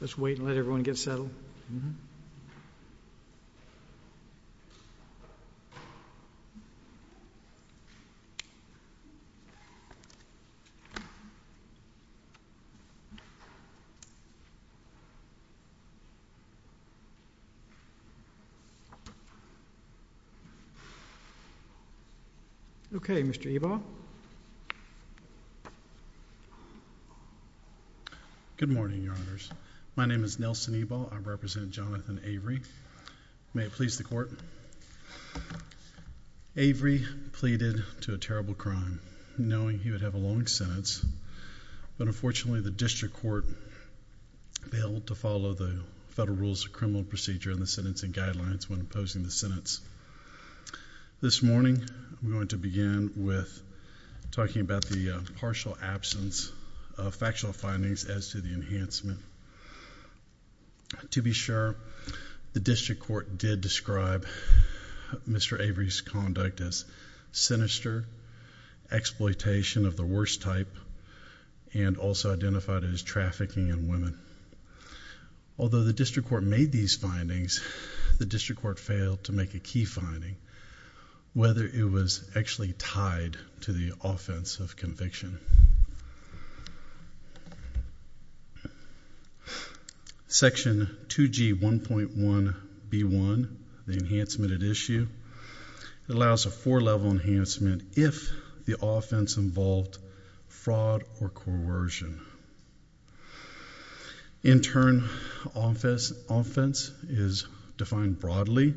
Let's wait and let everyone get settled. Okay, Mr. Ebaugh? Good morning, Your Honors. My name is Nelson Ebaugh. I represent Jonathan Avery. May it please the Court. Avery pleaded to a terrible crime, knowing he would have a long sentence. But unfortunately, the district court failed to follow the Federal Rules of Criminal Procedure in the Sentencing Guidelines when opposing the sentence. This morning, I'm going to begin with talking about the partial absence of factual findings as to the enhancement. To be sure, the district court did describe Mr. Avery's conduct as sinister, exploitation of the worst type, and also identified it as trafficking in women. Although the district court made these findings, the district court failed to make a key finding, whether it was actually tied to the offense of conviction. Section 2G 1.1b1, the enhancement at issue, allows a four-level enhancement if the offense involved fraud or coercion. In turn, offense is defined broadly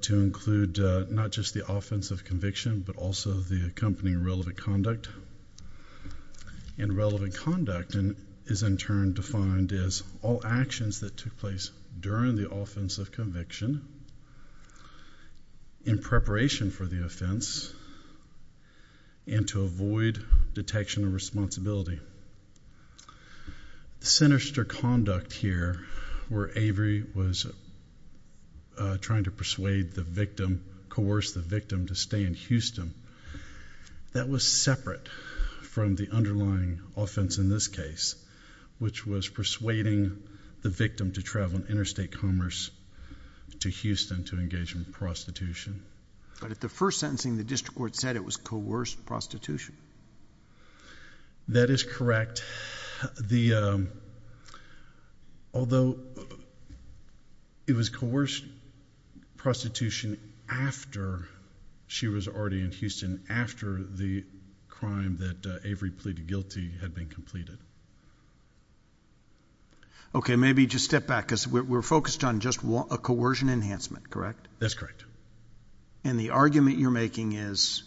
to include not just the offense of conviction, but also the accompanying relevant conduct. And relevant conduct is, in turn, defined as all actions that took place during the offense of conviction, in preparation for the offense, and to avoid detection of responsibility. Sinister conduct here, where Avery was trying to persuade the victim, coerce the victim to stay in Houston, that was separate from the underlying offense in this case, which was persuading the victim to travel interstate commerce to Houston to engage in prostitution. But at the first sentencing, the district court said it was coerced prostitution. That is correct. Although it was coerced prostitution after she was already in Houston, after the crime that Avery pleaded guilty had been completed. OK, maybe just step back, because we're focused on just a coercion enhancement, correct? That's correct. And the argument you're making is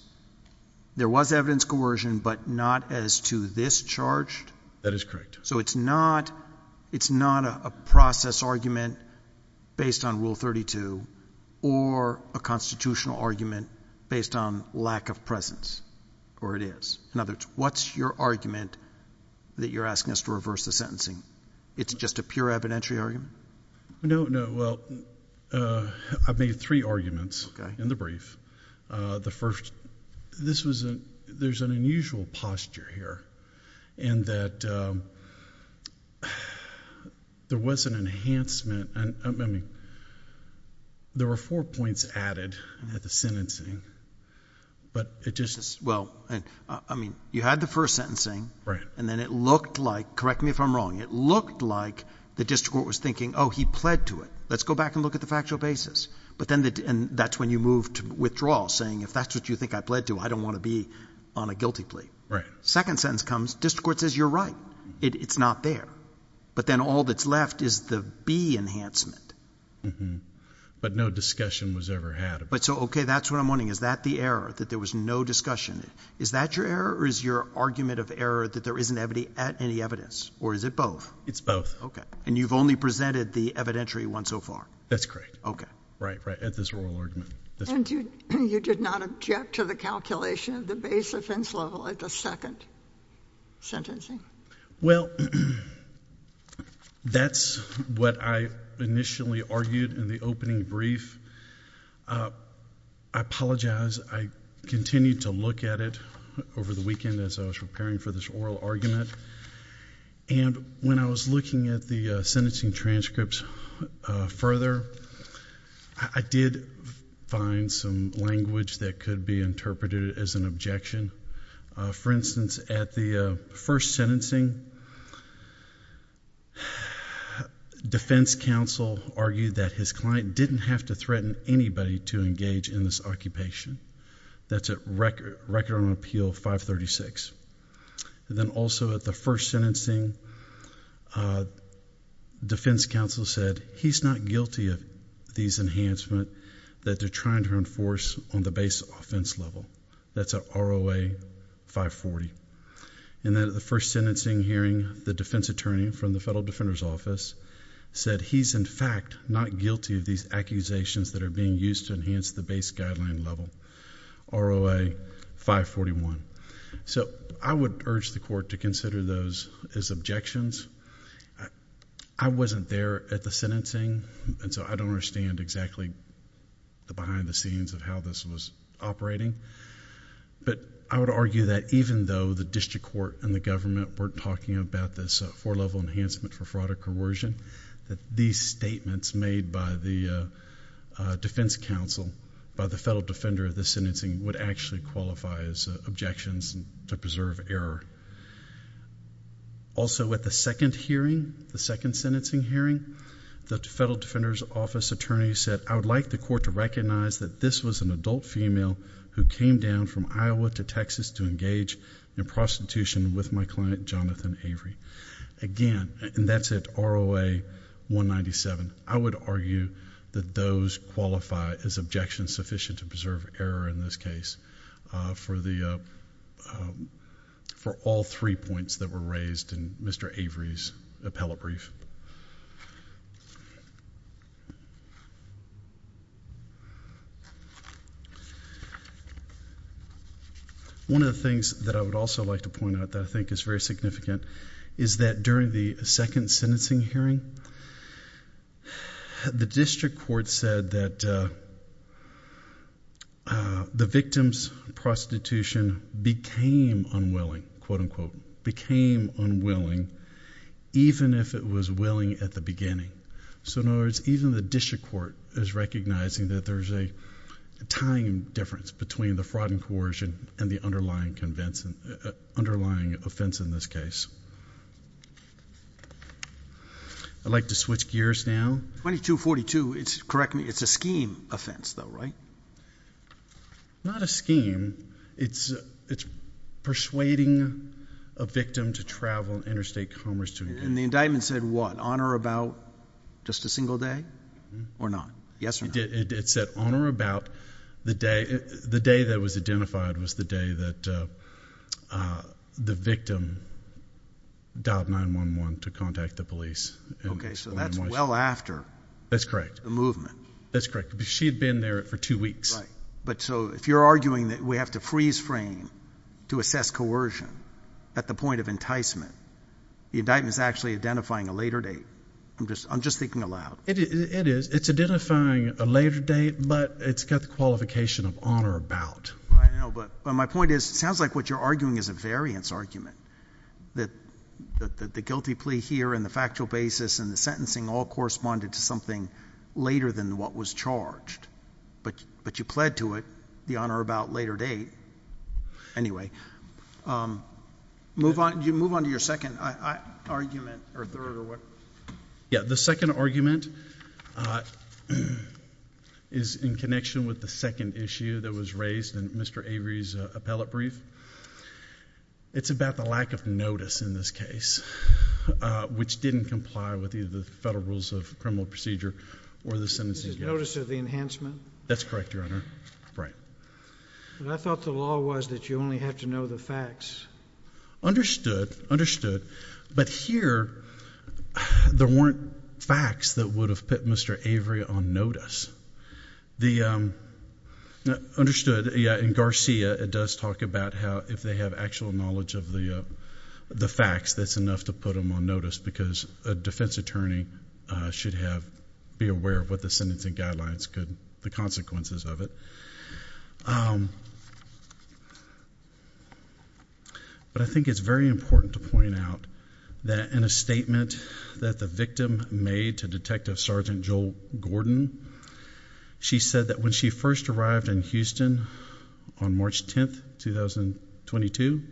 there was evidence coercion, but not as to this charge? That is correct. So it's not a process argument based on Rule 32, or a constitutional argument based on lack of presence? Or it is? In other words, what's your argument that you're asking us to reverse the sentencing? It's just a pure evidentiary argument? No, no. Well, I've made three arguments in the brief. The first, there's an unusual posture here, in that there was an enhancement. There were four points added at the sentencing, but it just is. Well, I mean, you had the first sentencing, and then it looked like, correct me if I'm wrong, it looked like the district court was thinking, oh, he pled to it. Let's go back and look at the factual basis. But then that's when you moved to withdrawal, saying if that's what you think I pled to, I don't want to be on a guilty plea. Second sentence comes, district court says, you're right. It's not there. But then all that's left is the B enhancement. But no discussion was ever had. But so, OK, that's what I'm wondering. Is that the error, that there was no discussion? Is that your error, or is your argument of error that there isn't any evidence? Or is it both? It's both. And you've only presented the evidentiary one so far? That's correct. Right, at this oral argument. And you did not object to the calculation of the base offense level at the second sentencing? Well, that's what I initially argued in the opening brief. I apologize. I continued to look at it over the weekend as I was preparing for this oral argument. And when I was looking at the sentencing transcripts further, I did find some language that could be interpreted as an objection. For instance, at the first sentencing, defense counsel argued that his client didn't have to threaten anybody to engage in this occupation. That's at record on appeal 536. And then also at the first sentencing, defense counsel said, he's not guilty of these enhancements that they're trying to enforce on the base offense level. That's at ROA 540. And then at the first sentencing hearing, the defense attorney from the Federal Defender's Office said, he's in fact not guilty of these accusations that are being used to enhance the base guideline level, ROA 541. So I would urge the court to consider those as objections. I wasn't there at the sentencing, and so I don't understand exactly the behind the scenes of how this was operating. But I would argue that even though the district court and the government weren't talking about this four-level enhancement for fraud or coercion, that these statements made by the defense counsel, by the federal defender of this sentencing, would actually qualify as objections to preserve error. Also at the second hearing, the second sentencing hearing, the Federal Defender's Office attorney said, I would like the court to recognize that this was an adult female who came down from Iowa to Texas to engage in prostitution with my client, Jonathan Avery. Again, and that's at ROA 197. I would argue that those qualify as objections sufficient to preserve error in this case for all three points that were raised in Mr. Avery's appellate brief. One of the things that I would also like to point out that I think is very significant is that during the second sentencing hearing, the district court said that the victim's prostitution became unwilling, quote, unquote, became unwilling, even if it was willing at the beginning. So in other words, even the district court is recognizing that there's a tying difference between the fraud and coercion and the underlying offense in this case. I'd like to switch gears now. 2242, correct me, it's a scheme offense though, right? Not a scheme. It's persuading a victim to travel interstate commerce to engage. And the indictment said what? Honor about just a single day or not? Yes or no? It said honor about the day that was identified was the day that the victim dialed 911 to contact the police. OK, so that's well after. That's correct. The movement. That's correct. She had been there for two weeks. But so if you're arguing that we have to freeze frame to assess coercion at the point of enticement, the indictment is actually identifying a later date. I'm just thinking aloud. It is. It's identifying a later date, but it's got the qualification of honor about. I know, but my point is, it sounds like what you're arguing is a variance argument, that the guilty plea here and the factual basis and the sentencing all corresponded to something later than what was charged. But you pled to it, the honor about later date. Anyway, move on to your second argument, or third, or what? Yeah, the second argument is in connection with the second issue that was raised in Mr. Avery's appellate brief. It's about the lack of notice in this case, which didn't comply with either the federal rules of criminal procedure or the sentencing. Notice of the enhancement? That's correct, your honor. Right. But I thought the law was that you only have to know the facts. Understood. Understood. But here, there weren't facts that would have put Mr. Avery on notice. Understood. In Garcia, it does talk about how if they have actual knowledge of the facts, that's enough to put him on notice, because a defense attorney should be aware of what the sentencing guidelines could, the consequences of it. But I think it's very important to point out that in a statement that the victim made to Detective Sergeant Joel Gordon, she said that when she first arrived in Houston on March 10, 2022,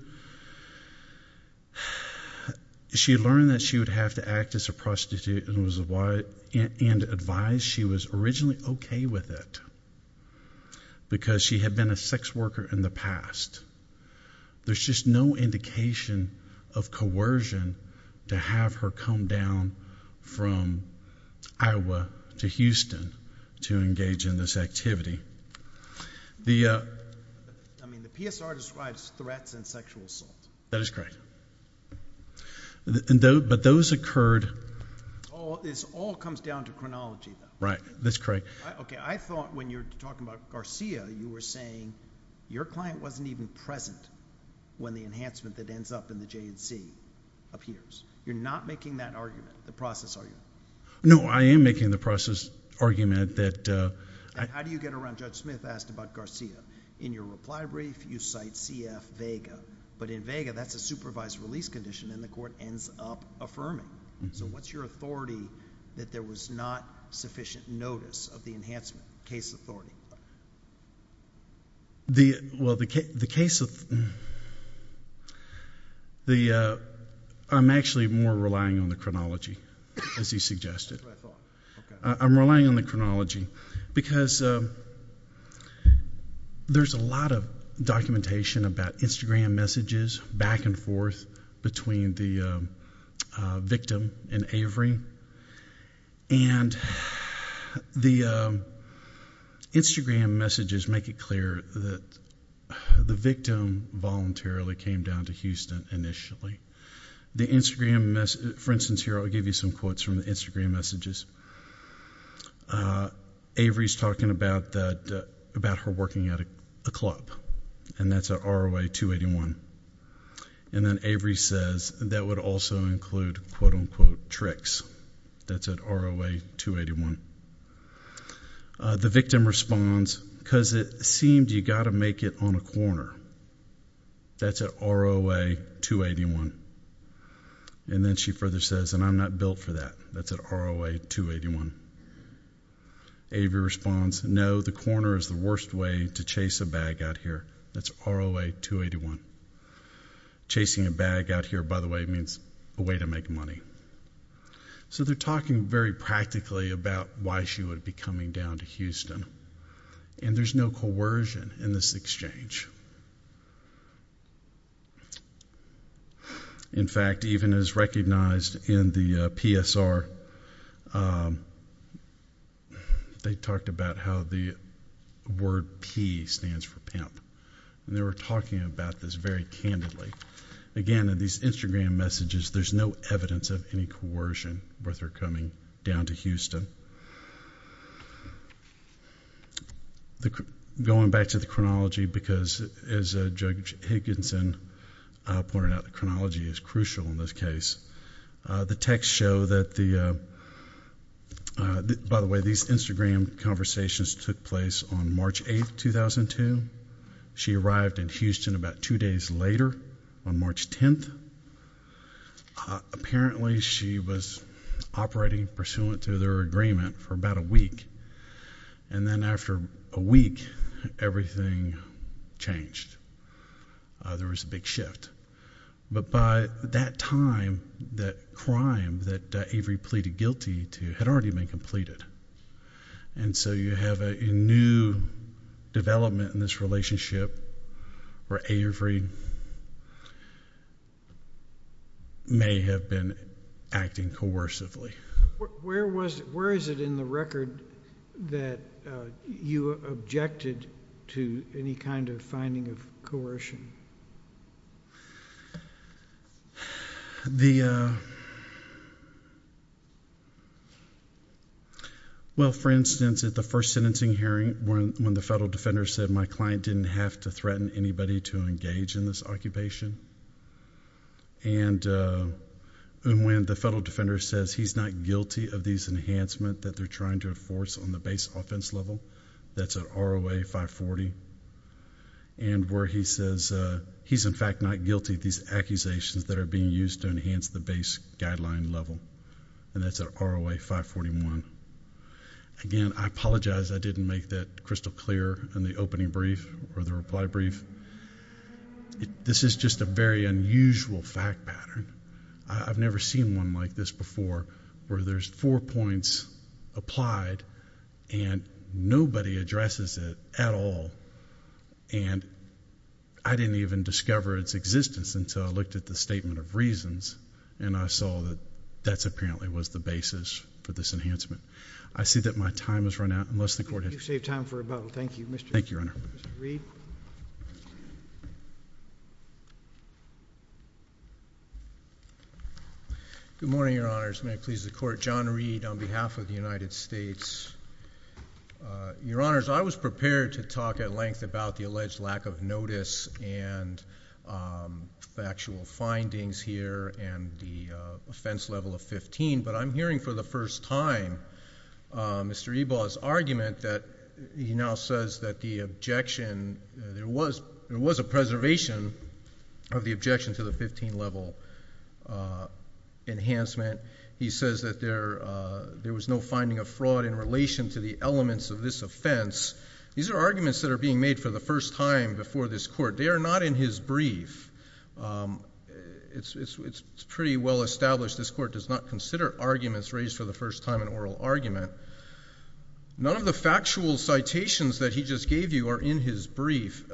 she learned that she would have to act as a prostitute and advise she was originally OK with it, because she had been a sex worker in the past. There's just no indication of coercion to have her come down from Iowa to Houston to engage in this activity. I mean, the PSR describes threats and sexual assault. That is correct. But those occurred. This all comes down to chronology. Right, that's correct. OK, I thought when you were talking about Garcia, you were saying your client wasn't even present when the enhancement that ends up in the J&C appears. You're not making that argument, the process argument. No, I am making the process argument that I How do you get around? Judge Smith asked about Garcia. In your reply brief, you cite CF Vega. But in Vega, that's a supervised release condition, and the court ends up affirming. So what's your authority that there was not sufficient notice of the enhancement, case authority? I'm actually more relying on the chronology, as he suggested. I'm relying on the chronology, because there's a lot of documentation about Instagram messages, back and forth, between the victim and Avery. And the Instagram messages make it clear that the victim voluntarily came down to Houston initially. The Instagram message, for instance, here I'll give you some quotes from the Instagram messages. Avery's talking about her working at a club. And that's at ROA 281. And then Avery says, that would also include, quote unquote, tricks. That's at ROA 281. The victim responds, because it seemed you got to make it on a corner. That's at ROA 281. And then she further says, and I'm not built for that. That's at ROA 281. Avery responds, no, the corner is the worst way to chase a bag out here. That's ROA 281. Chasing a bag out here, by the way, means a way to make money. So they're talking very practically about why she would be coming down to Houston. And there's no coercion in this exchange. In fact, even as recognized in the PSR, they talked about how the word P stands for pimp. And they were talking about this very candidly. Again, in these Instagram messages, there's no evidence of any coercion with her coming down to Houston. Going back to the chronology, because I as Judge Hankinson pointed out, the chronology is crucial in this case. The texts show that the, by the way, these Instagram conversations took place on March 8, 2002. She arrived in Houston about two days later on March 10. Apparently, she was operating pursuant to their agreement for about a week. And then after a week, everything changed. There was a big shift. But by that time, that crime that Avery pleaded guilty to had already been completed. And so you have a new development in this relationship where Avery may have been acting coercively. Where is it in the record that you objected to any kind of finding of coercion? Well, for instance, at the first sentencing hearing, when the federal defender said my client didn't have to threaten anybody to engage in this occupation, and when the federal defender says he's not guilty of these enhancements that they're trying to enforce on the base offense level, that's an ROA 540. And where he says he's, in fact, not guilty of these accusations that are being used to enhance the base guideline level, and that's an ROA 541. Again, I apologize I didn't make that crystal clear in the opening brief or the reply brief. This is just a very unusual fact pattern. I've never seen one like this before, where there's four points applied, and nobody addresses it at all. And I didn't even discover its existence until I looked at the statement of reasons, and I saw that that apparently was the basis for this enhancement. I see that my time has run out, unless the court has to. You saved time for a bubble. Thank you, Mr. Reed. Thank you, Your Honor. Mr. Reed. Good morning, Your Honors. May it please the court. John Reed on behalf of the United States. Your Honors, I was prepared to talk at length about the alleged lack of notice and factual findings here and the offense level of 15, but I'm hearing for the first time Mr. Ebaugh's argument that he now says that there was a preservation of the objection to the 15 level enhancement. He says that there was no finding of fraud in relation to the elements of this offense. These are arguments that are being made for the first time before this court. They are not in his brief. It's pretty well established this court does not consider arguments raised for the first time an oral argument. None of the factual citations that he just gave you are in his brief,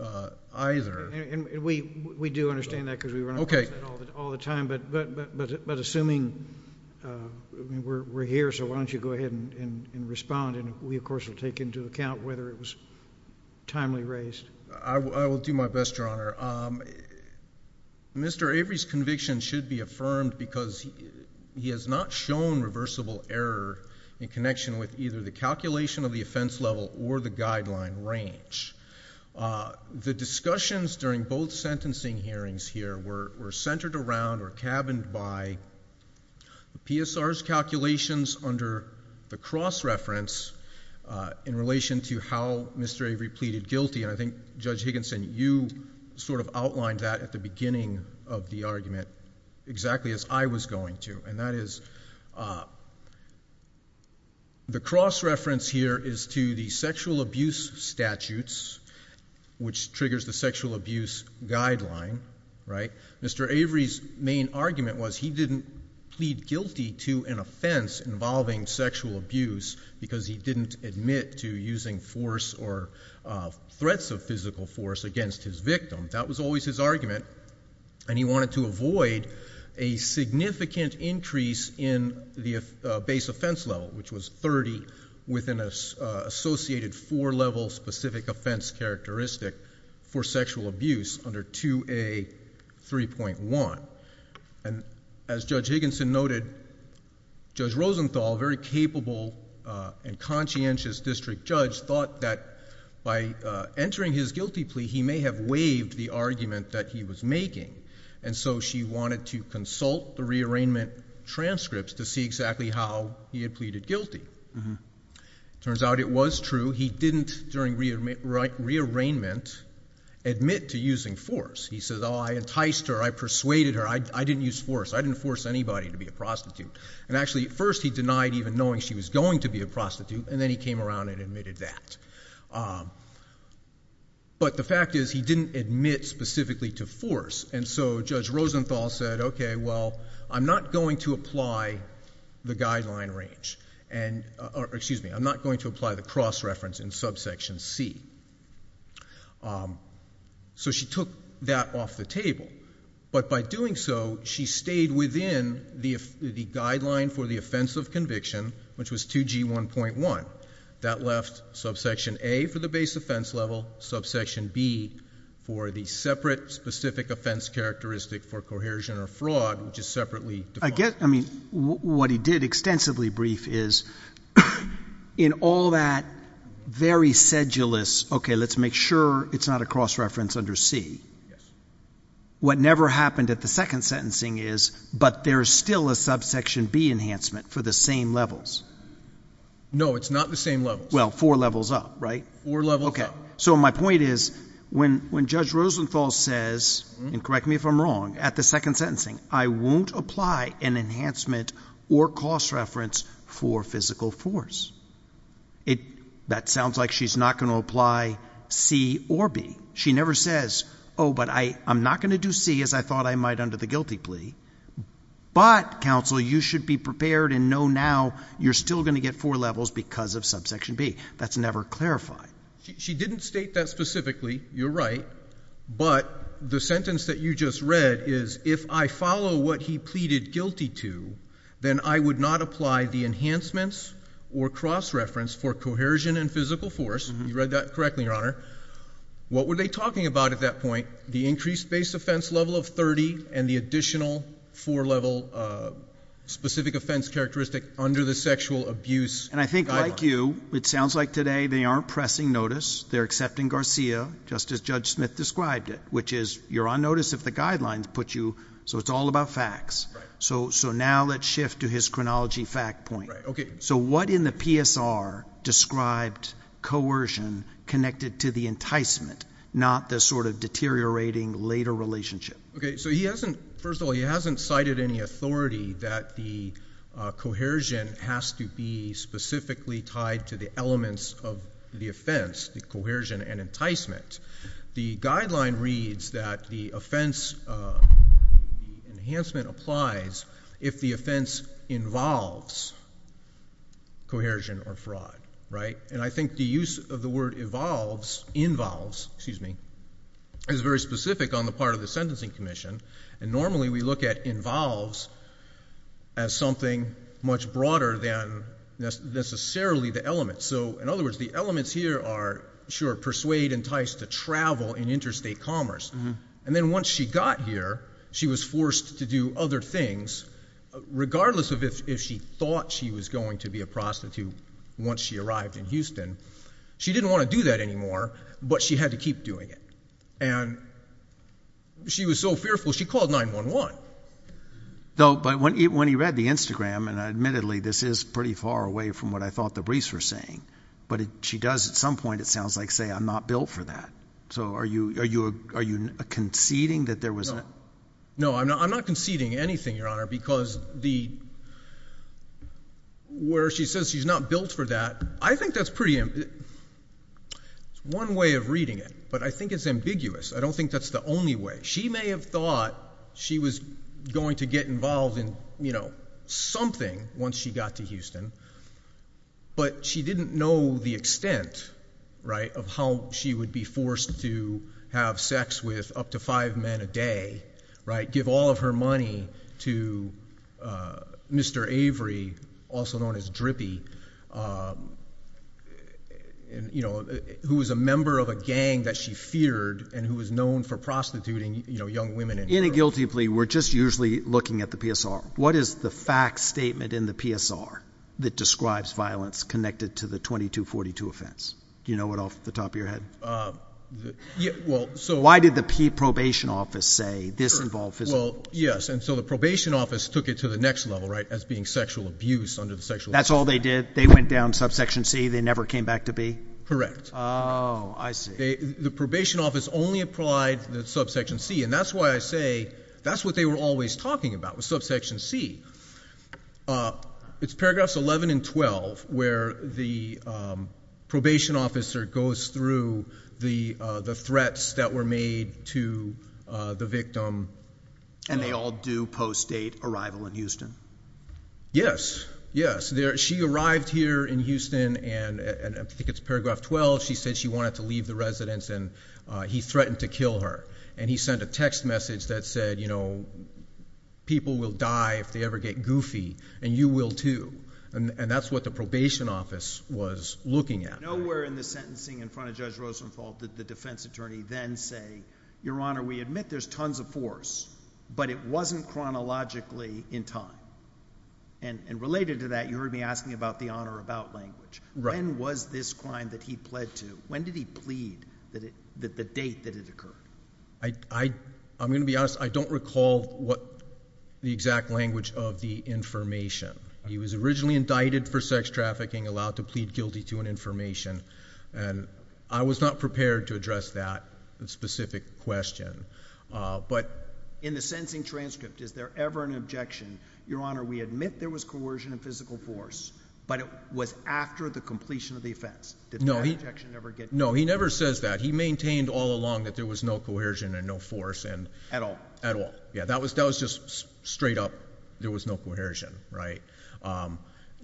either. And we do understand that because we run across that all the time. But assuming we're here, so why don't you go ahead and respond. And we, of course, will take into account whether it was timely raised. I will do my best, Your Honor. Mr. Avery's conviction should be affirmed because he has not shown reversible error in connection with either the calculation of the offense level or the guideline range. The discussions during both sentencing hearings here were centered around or cabined by the PSR's calculations under the cross-reference in relation to how Mr. Avery pleaded guilty. And I think Judge Higginson, you sort of outlined that at the beginning of the argument exactly as I was going to. And that is the cross-reference here is to the sexual abuse statutes, which triggers the sexual abuse guideline. Mr. Avery's main argument was he didn't plead guilty to an offense involving sexual abuse because he didn't admit to using force or threats of physical force against his victim. That was always his argument. And he wanted to avoid a significant increase in the base offense level, which was 30 within an associated four-level specific offense characteristic for sexual abuse under 2A 3.1. And as Judge Higginson noted, Judge Rosenthal, a very capable and conscientious district judge, thought that by entering his guilty plea, he may have waived the argument that he was making. And so she wanted to consult the re-arraignment transcripts to see exactly how he had pleaded guilty. Turns out it was true. He didn't, during re-arraignment, admit to using force. He says, oh, I enticed her. I persuaded her. I didn't use force. I didn't force anybody to be a prostitute. And actually, at first, he denied even knowing she was going to be a prostitute. And then he came around and admitted that. But the fact is, he didn't admit specifically to force. And so Judge Rosenthal said, OK, well, I'm not going to apply the guideline range. Excuse me, I'm not going to apply the cross-reference in subsection C. So she took that off the table. But by doing so, she stayed within the guideline for the offense of conviction, which was 2G 1.1. That left subsection A for the base offense level, subsection B for the separate specific offense characteristic for cohesion or fraud, which is separately defined. I mean, what he did extensively brief is, in all that very sedulous, OK, let's make sure it's not a cross-reference under C, what never happened at the second sentencing is, but there is still a subsection B enhancement for the same levels. No, it's not the same level. Well, four levels up, right? Four levels up. So my point is, when Judge Rosenthal says, and correct me if I'm wrong, at the second sentencing, I won't apply an enhancement or cross-reference for physical force, that sounds like she's not going to apply C or B. She never says, oh, but I'm not going to do C, as I thought I might under the guilty plea. But, counsel, you should be prepared and know now you're still going to get four levels because of subsection B. That's never clarified. She didn't state that specifically. You're right. But the sentence that you just read is, if I follow what he pleaded guilty to, then I would not apply the enhancements or cross-reference for cohesion and physical force. You read that correctly, Your Honor. What were they talking about at that point? The increased base offense level of 30 and the additional four-level specific offense characteristic under the sexual abuse guideline. And I think, like you, it sounds like today they aren't pressing notice. They're accepting Garcia, just as Judge Smith described it, which is, you're on notice if the guidelines put you. So it's all about facts. So now let's shift to his chronology fact point. So what in the PSR described coercion connected to the enticement, not the sort of deteriorating later relationship? So first of all, he hasn't cited any authority that the cohesion has to be specifically tied to the elements of the offense, the cohesion and enticement. The guideline reads that the offense enhancement applies if the offense involves cohesion or fraud. And I think the use of the word involves is very specific on the part of the Sentencing Commission. And normally, we look at involves as something much broader than necessarily the element. So in other words, the elements here are, sure, persuade, entice to travel in interstate commerce. And then once she got here, she was forced to do other things, regardless of if she thought she was going to be a prostitute once she arrived in Houston. She didn't want to do that anymore, but she had to keep doing it. And she was so fearful, she called 911. Though, when he read the Instagram, and admittedly, this is pretty far away from what I thought the briefs were saying, but she does, at some point, it sounds like, say, I'm not built for that. So are you conceding that there was a? No, I'm not conceding anything, Your Honor, because where she says she's not built for that, I think that's one way of reading it. But I think it's ambiguous. I don't think that's the only way. She may have thought she was going to get involved in something once she got to Houston, but she didn't know the extent of how she would be forced to have sex with up to five men a day, give all of her money to Mr. Avery, also known as Drippy, who was a member of a gang that she feared, and who was known for prostituting young women. In a guilty plea, we're just usually looking at the PSR. What is the fact statement in the PSR that describes violence connected to the 2242 offense? Do you know it off the top of your head? Yeah, well, so. Why did the P probation office say this involved physical? Yes, and so the probation office took it to the next level, right, as being sexual abuse under the sexual abuse act. That's all they did? They went down subsection C, they never came back to B? Correct. Oh, I see. The probation office only applied the subsection C, and that's why I say that's what they were always talking about, was subsection C. It's paragraphs 11 and 12, where the probation officer goes through the threats that were made to the victim. And they all do post-date arrival in Houston? Yes, yes. She arrived here in Houston, and I think it's paragraph 12, she said she wanted to leave the residence, and he threatened to kill her. And he sent a text message that said, you know, people will die if they ever get goofy, and you will too. And that's what the probation office was looking at. Nowhere in the sentencing in front of Judge Rosenthal did the defense attorney then say, your honor, we admit there's tons of force, but it wasn't chronologically in time. And related to that, you heard me asking about the on or about language. When was this crime that he pled to? When did he plead the date that it occurred? I'm going to be honest, I don't recall what the exact language of the information. He was originally indicted for sex trafficking, allowed to plead guilty to an information. And I was not prepared to address that specific question. But in the sentencing transcript, is there ever an objection, your honor, we admit there was coercion and physical force, but it was after the completion of the offense? Did that objection ever get to you? No, he never says that. He maintained all along that there was no coercion and no force and- At all? At all. Yeah, that was just straight up, there was no coercion.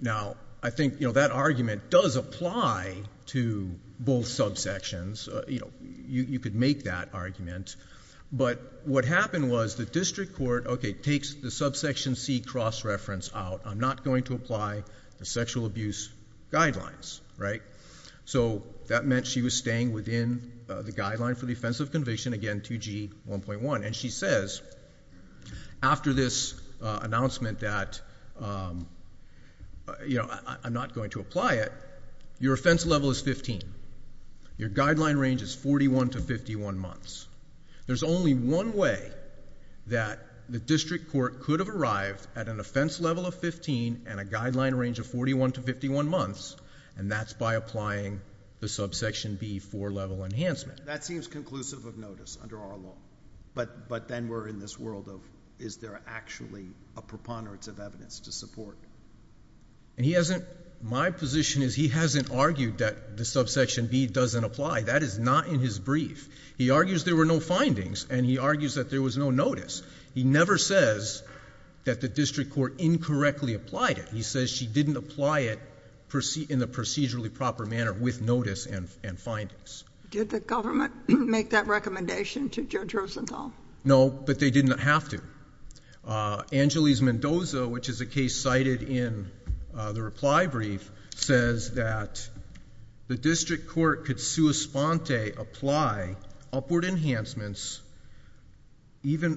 Now, I think that argument does apply to both subsections. You could make that argument. But what happened was the district court takes the subsection C cross-reference out. I'm not going to apply the sexual abuse guidelines. So that meant she was staying within the guideline for the offense of conviction, again, 2G 1.1. And she says, after this announcement that I'm not going to apply it, your offense level is 15. Your guideline range is 41 to 51 months. There's only one way that the district court could have arrived at an offense level of 15 and a guideline range of 41 to 51 months. And that's by applying the subsection B for level enhancement. That seems conclusive of notice under our law. But then we're in this world of, is there actually a preponderance of evidence to support? My position is he hasn't argued that the subsection B doesn't apply. That is not in his brief. He argues there were no findings. And he argues that there was no notice. He never says that the district court incorrectly applied it. He says she didn't apply it in the procedurally proper manner with notice and findings. Did the government make that recommendation to Judge Rosenthal? No, but they did not have to. Angeles Mendoza, which is a case cited in the reply brief, says that the district court could sua sponte apply upward enhancements, even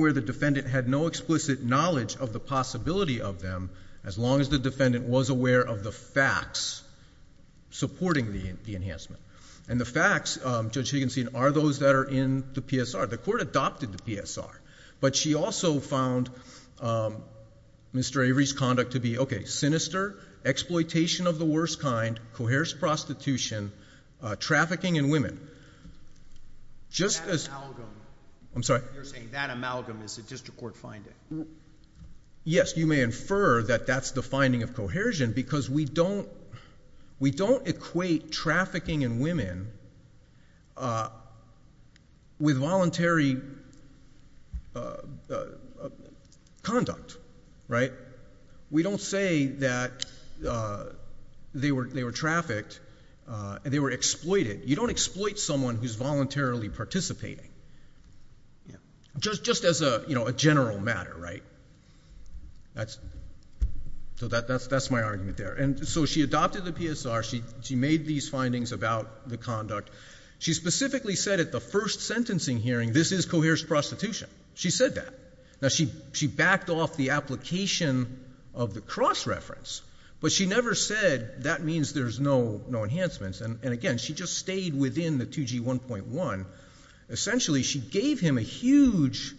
where the defendant had no explicit knowledge of the possibility of them, as long as the defendant was aware of the facts supporting the enhancement. And the facts, Judge Higginson, are those that are in the PSR. The court adopted the PSR. But she also found Mr. Avery's conduct to be, OK, sinister, exploitation of the worst kind, coerced prostitution, trafficking in women. Just as. That amalgam. I'm sorry? You're saying that amalgam is a district court finding. Yes, you may infer that that's the finding of cohesion, because we don't equate trafficking in women with voluntary conduct. We don't say that they were trafficked and they were exploited. You don't exploit someone who's voluntarily participating, just as a general matter. Right? So that's my argument there. And so she adopted the PSR. She made these findings about the conduct. She specifically said at the first sentencing hearing, this is coerced prostitution. She said that. Now, she backed off the application of the cross-reference. But she never said, that means there's no enhancements. And again, she just stayed within the 2G1.1. Essentially, she gave him a huge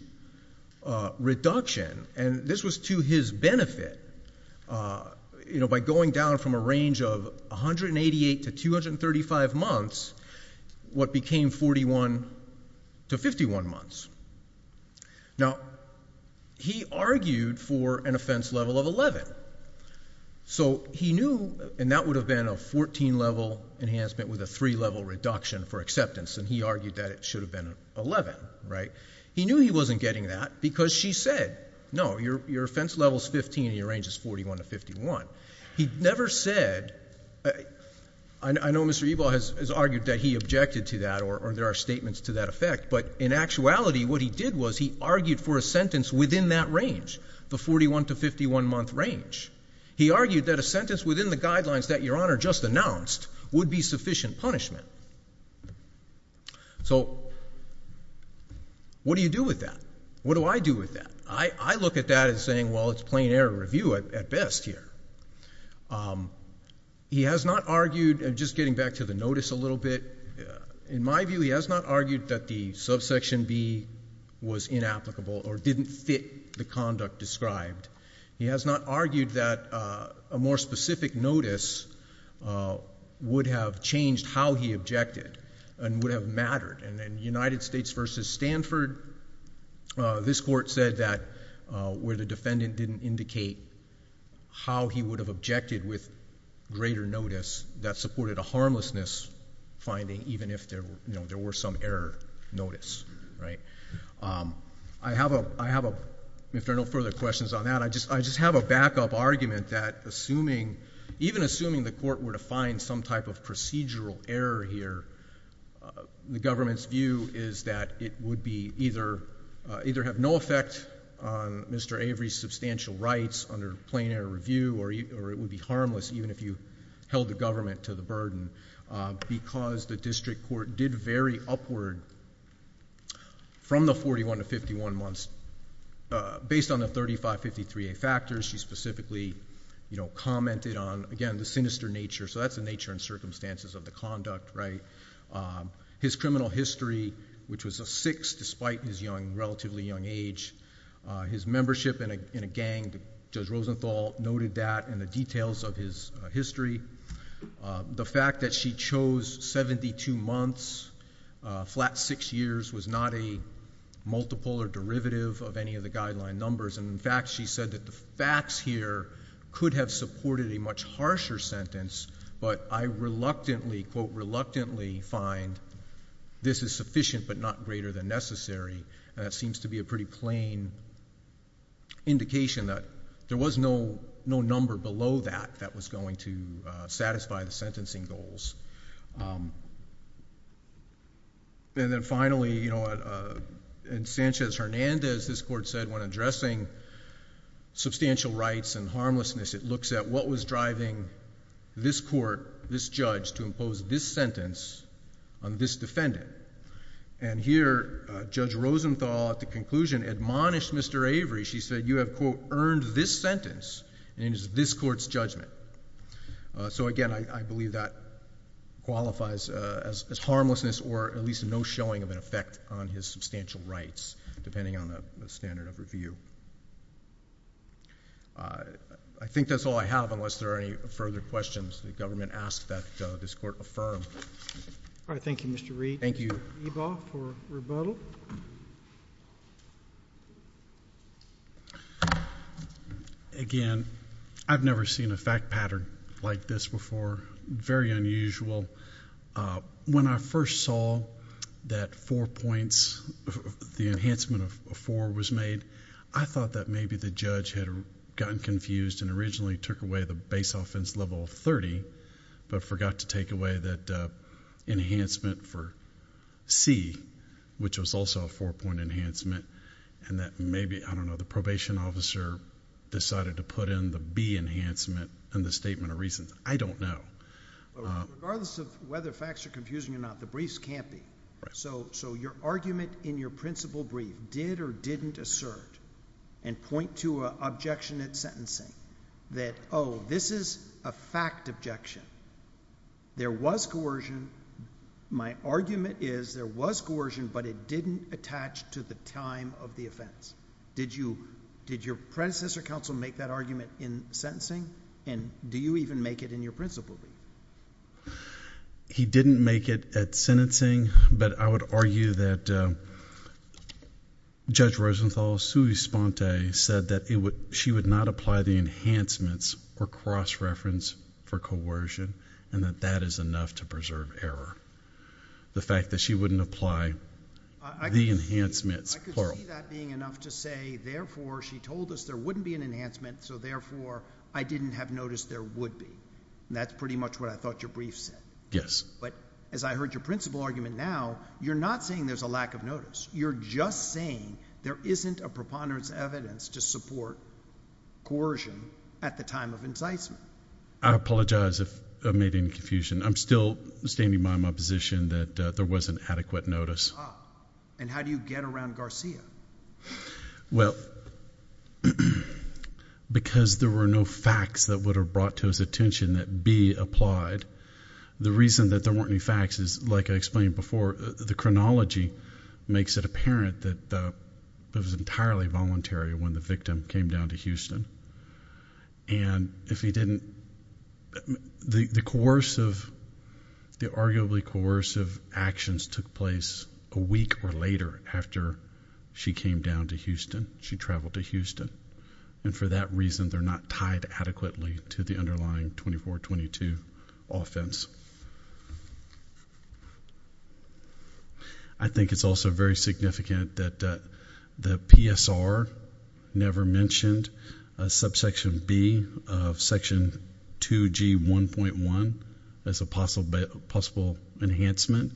reduction. And this was to his benefit. By going down from a range of 188 to 235 months, what became 41 to 51 months. Now, he argued for an offense level of 11. So he knew, and that would have been a 14 level enhancement with a three level reduction for acceptance. And he argued that it should have been 11. Right? He knew he wasn't getting that, because she said, no, your offense level is 15 and your range is 41 to 51. He never said, I know Mr. Ebal has argued that he objected to that, or there are statements to that effect. But in actuality, what he did was he argued for a sentence within that range, the 41 to 51 month range. He argued that a sentence within the guidelines that your honor just announced would be sufficient punishment. So what do you do with that? What do I do with that? I look at that as saying, well, it's plain error review at best here. He has not argued, and just getting back to the notice a little bit, in my view, he has not argued that the subsection B was inapplicable or didn't fit the conduct described. He has not argued that a more specific notice would have changed how he objected and would have mattered. And in United States versus Stanford, this court said that where the defendant didn't indicate how he would have objected with greater notice, that supported a harmlessness finding, even if there were some error notice. Right? I have a, if there are no further questions on that, I just have a backup argument that even assuming the court were to find some type of procedural error here, the government's view is that it would either have no effect on Mr. Avery's substantial rights under plain error review, or it would be harmless, even if you held the government to the burden, because the district court did vary upward from the 41 to 51 months. Based on the 3553A factors, she specifically commented on, again, the sinister nature. So that's the nature and circumstances of the conduct. His criminal history, which was a six, despite his young, relatively young age. His membership in a gang, Judge Rosenthal noted that in the details of his history. The fact that she chose 72 months, flat six years, was not a multiple or derivative of any of the guideline numbers. And in fact, she said that the facts here could have supported a much harsher sentence, but I reluctantly, quote, reluctantly find this is sufficient, but not greater than necessary. And that seems to be a pretty plain indication that there was no number below that that was going to satisfy the sentencing goals. And then finally, in Sanchez-Hernandez, this court said, when addressing substantial rights and harmlessness, it looks at what was driving this court, this judge, to impose this sentence on this defendant. And here, Judge Rosenthal, at the conclusion, admonished Mr. Avery. She said, you have, quote, earned this sentence and it is this court's judgment. So again, I believe that qualifies as harmlessness or at least no showing of an effect on his substantial rights, depending on the standard of review. I think that's all I have, unless there are any further questions the government asks that this court affirm. All right, thank you, Mr. Reed. Thank you. Mr. Ebaugh for rebuttal. Thank you. Again, I've never seen a fact pattern like this before. Very unusual. When I first saw that four points, the enhancement of four was made, I thought that maybe the judge had gotten confused and originally took away the base offense level of 30, but forgot to take away that enhancement for C, which was also a four point enhancement, and that maybe, I don't know, the probation officer decided to put in the B enhancement in the statement of reasons. I don't know. Regardless of whether facts are confusing or not, the briefs can't be. So your argument in your principle brief did or didn't assert and point to an objection at sentencing that, oh, this is a fact objection. There was coercion. My argument is there was coercion, but it didn't attach to the time of the offense. Did your predecessor counsel make that argument in sentencing? And do you even make it in your principle brief? He didn't make it at sentencing, but I would argue that Judge Rosenthal, sui sponte, said that she would not apply the enhancements or cross-reference for coercion, and that that is enough to preserve error. The fact that she wouldn't apply the enhancements. I could see that being enough to say, therefore, she told us there wouldn't be an enhancement, so therefore, I didn't have notice there would be. And that's pretty much what I thought your brief said. Yes. But as I heard your principle argument now, you're not saying there's a lack of notice. You're just saying there isn't a preponderance evidence to support coercion at the time of incitement. I apologize if I've made any confusion. I'm still standing by my position that there was an adequate notice. And how do you get around Garcia? Well, because there were no facts that would have brought to his attention that B applied. The reason that there weren't any facts is like I explained before, the chronology makes it apparent that it was entirely voluntary when the victim came down to Houston. And if he didn't, the coercive, the arguably coercive actions took place a week or later after she came down to Houston, she traveled to Houston. And for that reason, they're not tied adequately to the underlying 24-22 offense. I think it's also very significant that the PSR never mentioned a subsection B of section 2G1.1 as a possible enhancement.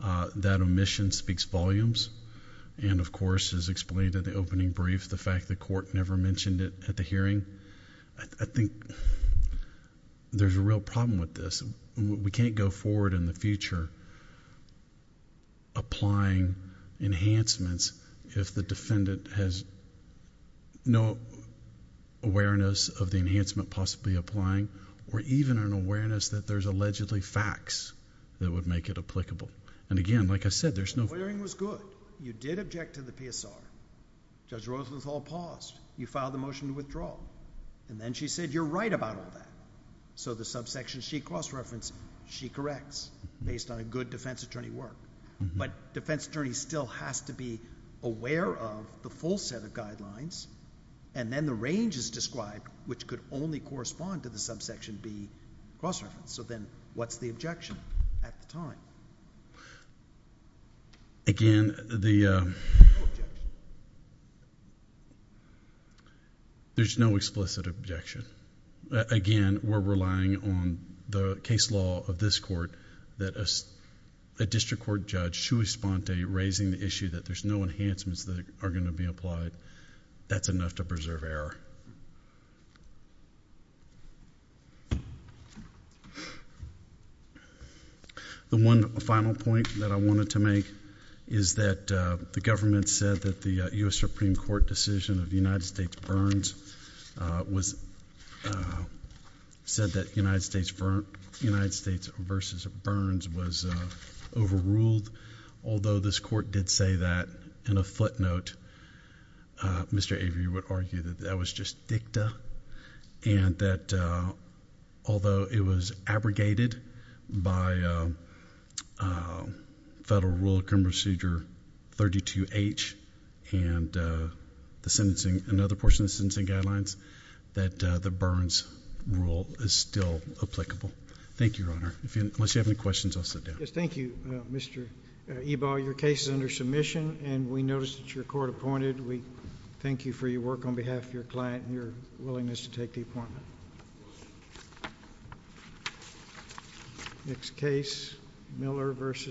That omission speaks volumes. And of course, as explained at the opening brief, the fact the court never mentioned it at the hearing. I think there's a real problem with this. We can't go forward in the future applying enhancements if the defendant has no awareness of the enhancement possibly applying, or even an awareness that there's allegedly facts that would make it applicable. And again, like I said, there's no- The hearing was good. You did object to the PSR. Judge Rosenthal paused. You filed a motion to withdraw. And then she said, you're right about all that. So the subsection she cross-referenced, she corrects based on a good defense attorney work. But defense attorney still has to be aware of the full set of guidelines. And then the range is described, which could only correspond to the subsection B cross-reference. So then what's the objection at the time? Again, the- No objection. There's no explicit objection. Again, we're relying on the case law of this court that a district court judge should respond to raising the issue that there's no enhancements that are gonna be applied. That's enough to preserve error. The one final point that I wanted to make is that the government said that the US Supreme Court decision of the United States Burns said that United States versus Burns was overruled. Although this court did say that in a footnote, Mr. Avery would argue that that was just dicta. And that although it was abrogated by Federal Rule of Criminal Procedure 32H and another portion of the sentencing guidelines, that the Burns rule is still applicable. Thank you, Your Honor. Unless you have any questions, I'll sit down. Yes, thank you, Mr. Ebaugh. Your case is under submission, and we notice that you're court appointed. We thank you for your work on behalf of your client and your willingness to take the appointment. Next case, Miller versus-